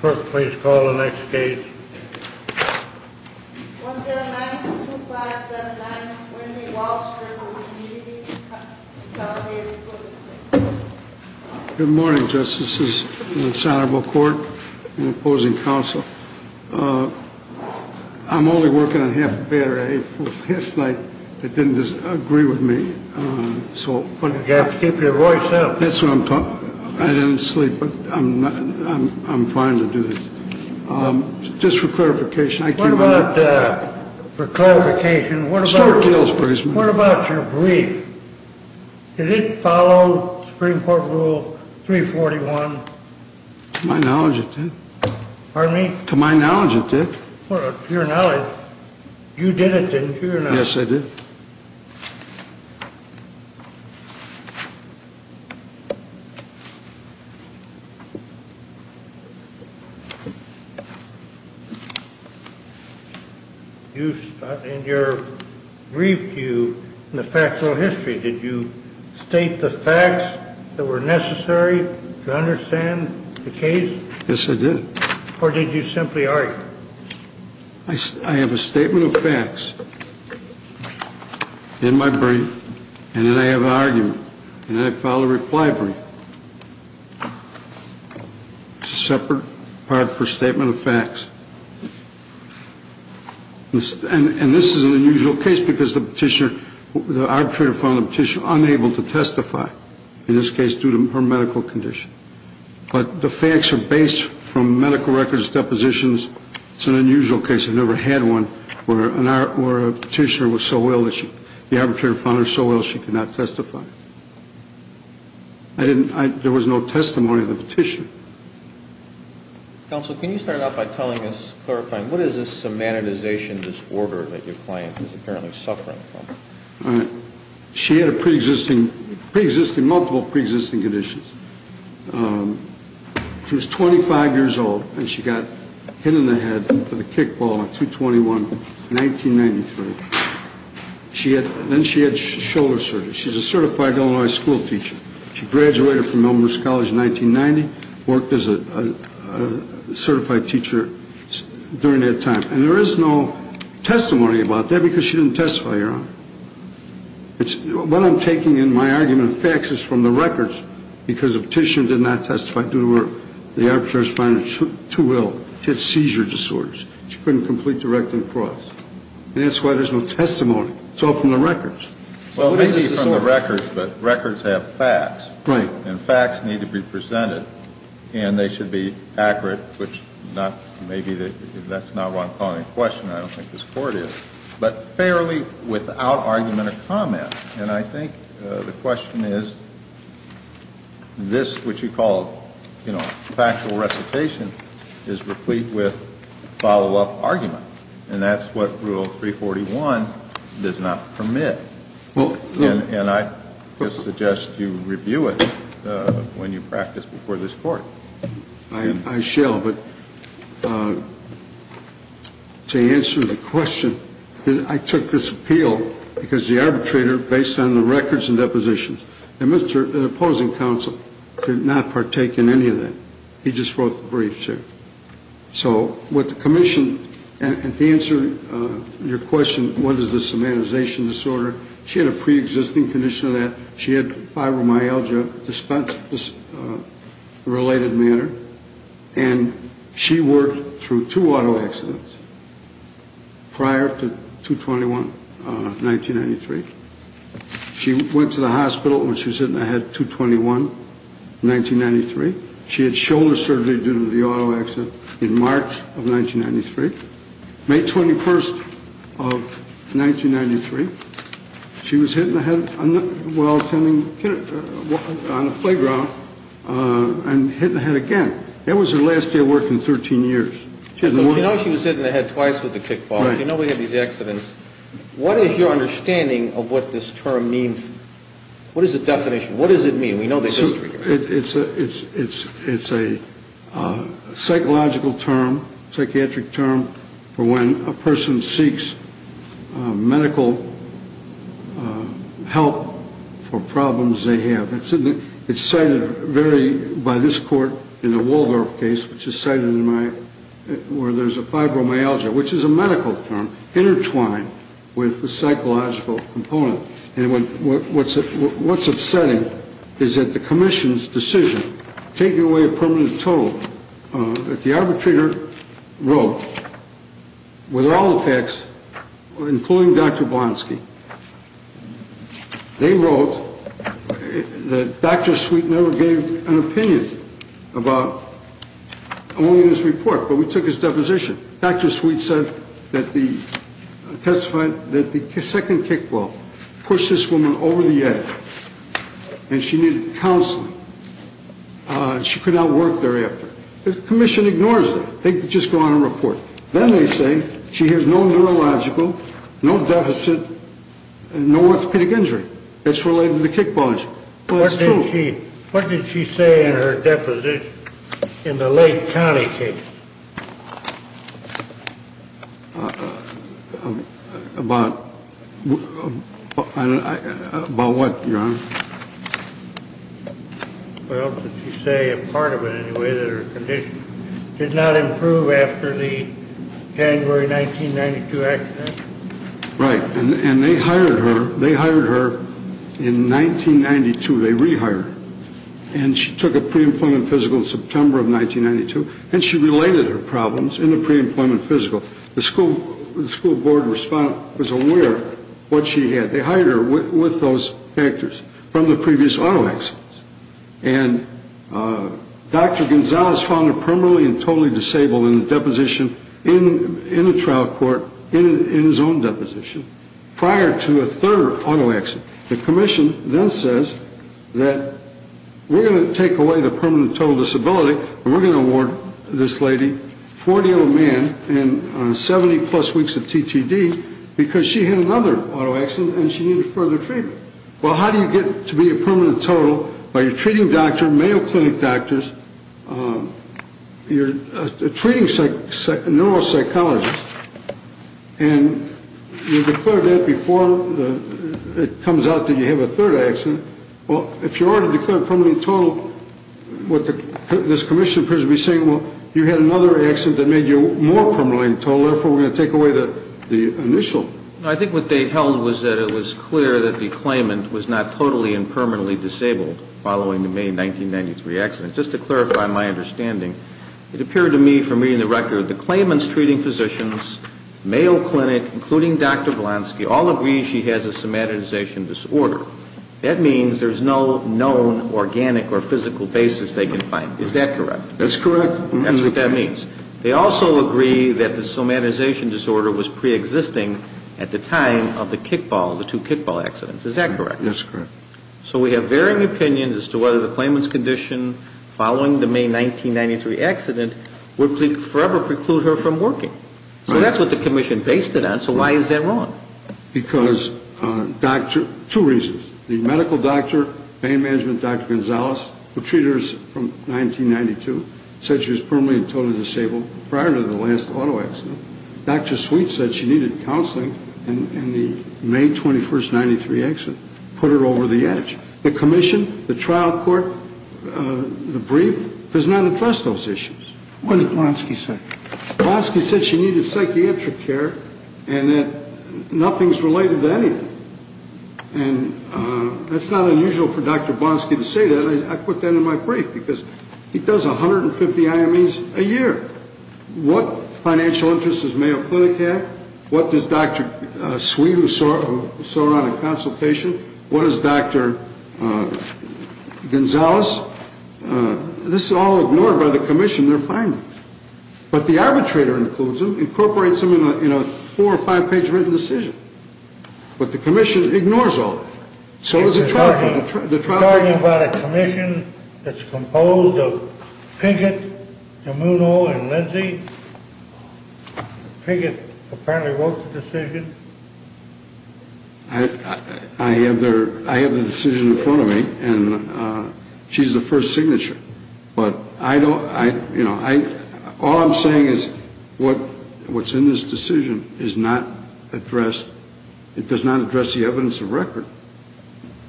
Court, please call the next case. 1092579, Wendy Walsh v. The Community Compensation Commission Good morning, Justices of the Senate and the opposing counsel. I'm only working on half the battery. Last night, they didn't agree with me. You have to keep your voice up. That's what I'm talking about. I didn't sleep, but I'm fine to do this. Just for clarification. What about your brief? Did it follow Supreme Court Rule 341? To my knowledge, it did. Pardon me? To my knowledge, it did. To your knowledge? You did it, didn't you? Yes, I did. In your brief, in the factual history, did you state the facts that were necessary to understand the case? Yes, I did. Or did you simply argue? I have a statement of facts in my brief, and then I have an argument, and then I file a reply brief. It's a separate part for statement of facts. And this is an unusual case because the arbitrator found the petitioner unable to testify, in this case due to her medical condition. But the facts are based from medical records, depositions. It's an unusual case. I've never had one where a petitioner was so ill, the arbitrator found her so ill she could not testify. There was no testimony of the petitioner. Counsel, can you start off by telling us, clarifying, what is this semantization disorder that your client is apparently suffering from? She had multiple pre-existing conditions. She was 25 years old, and she got hit in the head with a kickball on 2-21-1993. Then she had shoulder surgery. She's a certified Illinois school teacher. She graduated from Elmhurst College in 1990, worked as a certified teacher during that time. And there is no testimony about that because she didn't testify, Your Honor. What I'm taking in my argument, facts is from the records, because the petitioner did not testify due to her. The arbitrator found her too ill. She had seizure disorders. She couldn't complete the rectum cross. And that's why there's no testimony. It's all from the records. Well, maybe from the records, but records have facts. Right. And facts need to be presented, and they should be accurate, which maybe that's not what I'm calling a question. I don't think this court is. But fairly without argument or comment. And I think the question is, this, which you call factual recitation, is replete with follow-up argument. And that's what Rule 341 does not permit. And I suggest you review it when you practice before this court. I shall. But to answer the question, I took this appeal because the arbitrator, based on the records and depositions, the opposing counsel did not partake in any of that. He just wrote the brief, sir. So what the commission, and to answer your question, what is the somatization disorder, she had a preexisting condition of that. She had fibromyalgia, a related matter. And she worked through two auto accidents prior to 2-21-1993. She went to the hospital when she was hit in the head, 2-21-1993. She had shoulder surgery due to the auto accident in March of 1993. May 21st of 1993, she was hit in the head while attending on the playground and hit in the head again. That was her last day of work in 13 years. So she was hit in the head twice with a kickball. You know we have these accidents. What is your understanding of what this term means? What is the definition? What does it mean? It's a psychological term, psychiatric term for when a person seeks medical help for problems they have. It's cited very, by this court, in the Waldorf case, which is cited in my, where there's a fibromyalgia, which is a medical term intertwined with the psychological component. And what's upsetting is that the commission's decision, taking away a permanent total, that the arbitrator wrote, with all the facts, including Dr. Blonsky, they wrote that Dr. Sweet never gave an opinion about owning this report, but we took his deposition. Dr. Sweet testified that the second kickball pushed this woman over the edge and she needed counseling. She could not work thereafter. The commission ignores that. They just go on and report. Then they say she has no neurological, no deficit, and no orthopedic injury. That's related to the kickball injury. What did she say in her deposition in the Lake County case? About what, Your Honor? What else did she say, a part of it anyway, that her condition did not improve after the January 1992 accident? Right. And they hired her in 1992. They rehired her. And she took a pre-employment physical in September of 1992. And she related her problems in the pre-employment physical. The school board was aware of what she had. They hired her with those factors from the previous auto accidents. And Dr. Gonzalez found her permanently and totally disabled in the deposition in the trial court, in his own deposition, prior to a third auto accident. The commission then says that we're going to take away the permanent total disability and we're going to award this lady 40-year-old man and 70-plus weeks of TTD because she had another auto accident and she needed further treatment. Well, how do you get to be a permanent total while you're treating doctors, Mayo Clinic doctors, you're a treating neuropsychologist, and you declared that before it comes out that you have a third accident. Well, if you already declared permanent and total, what this commission appears to be saying, well, you had another accident that made you more permanently and totally, therefore, we're going to take away the initial. I think what they held was that it was clear that the claimant was not totally and permanently disabled following the May 1993 accident. Just to clarify my understanding, it appeared to me from reading the record, the claimant's treating physicians, Mayo Clinic, including Dr. Volansky, all agree she has a somatization disorder. That means there's no known organic or physical basis they can find. Is that correct? That's correct. That's what that means. They also agree that the somatization disorder was preexisting at the time of the kickball, the two kickball accidents. Is that correct? That's correct. So we have varying opinions as to whether the claimant's condition following the May 1993 accident would forever preclude her from working. So that's what the commission based it on. So why is that wrong? Because two reasons. The medical doctor, pain management Dr. Gonzalez, who treated her from 1992, said she was permanently and totally disabled prior to the last auto accident. Dr. Sweet said she needed counseling, and the May 21st, 1993 accident put her over the edge. The commission, the trial court, the brief does not address those issues. What did Volansky say? Volansky said she needed psychiatric care and that nothing's related to anything. And that's not unusual for Dr. Volansky to say that. I put that in my brief because he does 150 IMEs a year. What financial interests does Mayo Clinic have? What does Dr. Sweet, who saw her on a consultation, what does Dr. Gonzalez? This is all ignored by the commission, their findings. But the arbitrator includes them, incorporates them in a four- or five-page written decision. But the commission ignores all of it. So does the trial court. You're talking about a commission that's composed of Pinkett, DeMuno, and Lindsey? Pinkett apparently wrote the decision. I have the decision in front of me, and she's the first signature. But I don't, you know, all I'm saying is what's in this decision is not addressed. It does not address the evidence of record.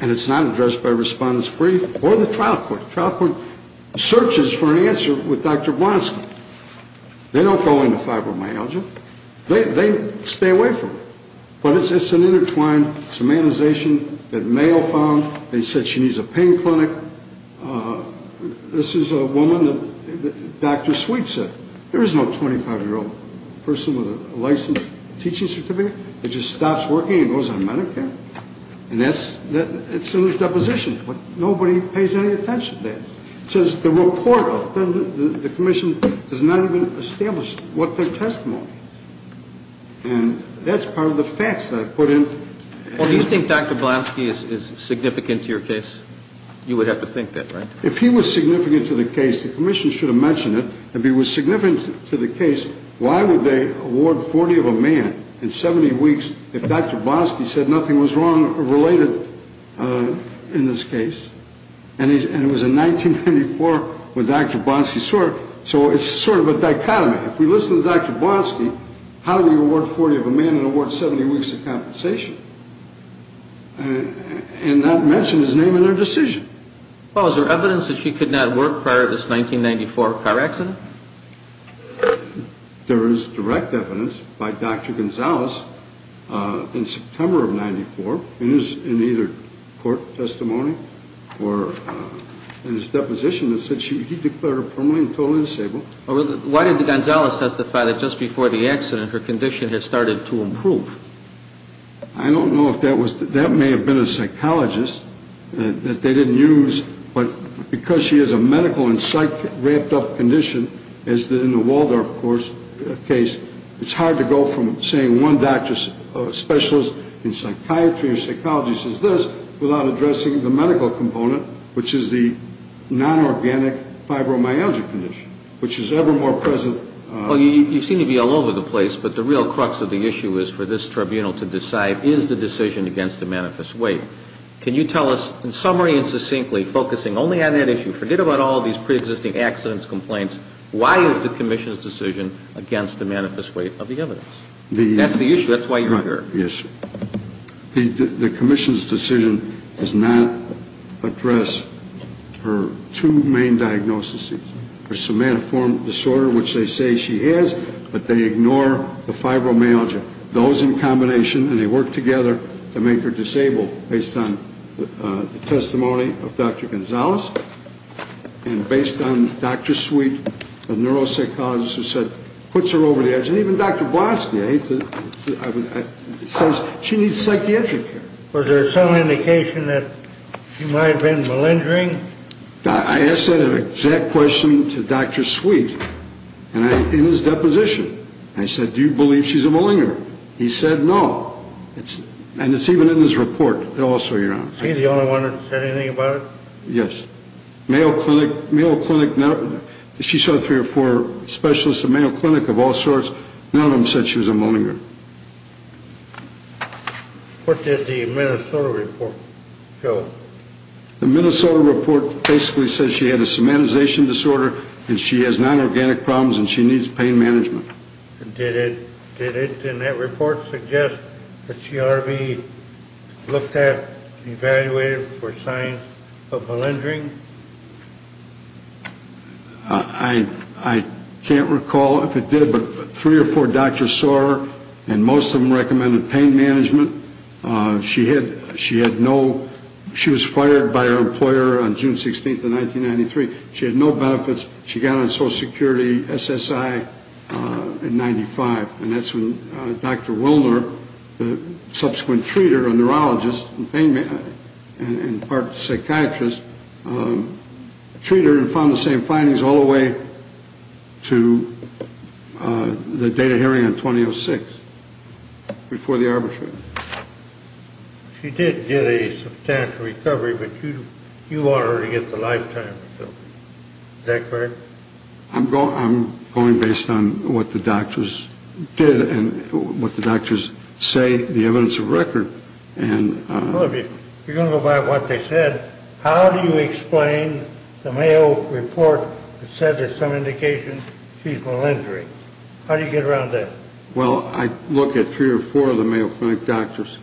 And it's not addressed by respondent's brief or the trial court. The trial court searches for an answer with Dr. Volansky. They don't go into fibromyalgia. They stay away from it. But it's an intertwined semanization that Mayo found. They said she needs a pain clinic. This is a woman that Dr. Sweet said. There is no 25-year-old person with a licensed teaching certificate that just stops working and goes on Medicare. And that's in his deposition. Nobody pays any attention to that. It says the report of the commission has not even established what their testimony is. And that's part of the facts that I put in. Well, do you think Dr. Volansky is significant to your case? You would have to think that, right? If he was significant to the case, the commission should have mentioned it. If he was significant to the case, why would they award 40 of a man in 70 weeks if Dr. Volansky said nothing was wrong or related in this case? And it was in 1994 when Dr. Volansky swore. So it's sort of a dichotomy. Right. If we listen to Dr. Volansky, how do we award 40 of a man and award 70 weeks of compensation and not mention his name in their decision? Well, is there evidence that she could not work prior to this 1994 car accident? There is direct evidence by Dr. Gonzales in September of 94. It is in either court testimony or in his deposition that said he declared her permanently and totally disabled. Why didn't Gonzales testify that just before the accident her condition had started to improve? I don't know if that was – that may have been a psychologist that they didn't use, but because she has a medical and psych wrapped up condition as in the Waldorf case, it's hard to go from saying one doctor's specialist in psychiatry or psychology says this without addressing the medical component, which is the non-organic fibromyalgia condition, which is ever more present. Well, you seem to be all over the place, but the real crux of the issue is for this tribunal to decide is the decision against a manifest weight. Can you tell us, in summary and succinctly, focusing only on that issue, forget about all these preexisting accidents, complaints, why is the commission's decision against the manifest weight of the evidence? That's the issue. That's why you're here. The commission's decision does not address her two main diagnoses, her somatoform disorder, which they say she has, but they ignore the fibromyalgia. Those in combination, and they work together to make her disabled based on the testimony of Dr. Gonzales and based on Dr. Sweet, a neuropsychologist, who puts her over the edge. And even Dr. Blonsky says she needs psychiatric care. Was there some indication that she might have been malingering? I asked that exact question to Dr. Sweet in his deposition. I said, do you believe she's a malingerer? He said no. And it's even in his report also, Your Honor. Is he the only one that said anything about it? Yes. Mayo Clinic, she saw three or four specialists at Mayo Clinic of all sorts. None of them said she was a malingerer. What did the Minnesota report show? The Minnesota report basically says she had a somatization disorder and she has non-organic problems and she needs pain management. Did it in that report suggest that she ought to be looked at, evaluated for signs of malingering? I can't recall if it did, but three or four doctors saw her, and most of them recommended pain management. She was fired by her employer on June 16th of 1993. She had no benefits. She got on Social Security SSI in 1995, and that's when Dr. Wilner, the subsequent treater, a neurologist, and part psychiatrist, treated her and found the same findings all the way to the date of hearing in 2006 before the arbitration. She did get a substantial recovery, but you want her to get the lifetime recovery. Is that correct? I'm going based on what the doctors did and what the doctors say, the evidence of record. Well, if you're going to go by what they said, how do you explain the Mayo report that said there's some indication she's malingering? How do you get around that? Well, I look at three or four of the Mayo Clinic doctors.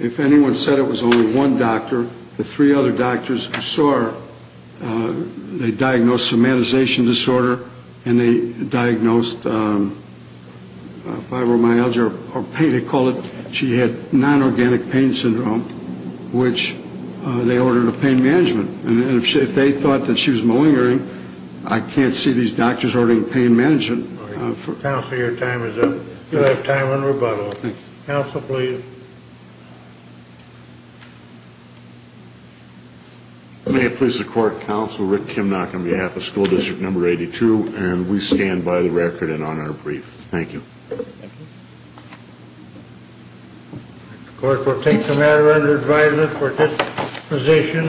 If anyone said it was only one doctor, the three other doctors who saw her, they diagnosed somatization disorder and they diagnosed fibromyalgia or pain, they called it. She had non-organic pain syndrome, which they ordered a pain management. And if they thought that she was malingering, I can't see these doctors ordering pain management. Counsel, your time is up. You have time on rebuttal. Counsel, please. May it please the Court, Counsel Rick Kimnock on behalf of School District No. 82, and we stand by the record and on our brief. Thank you. The Court will take the matter under advisement for this position.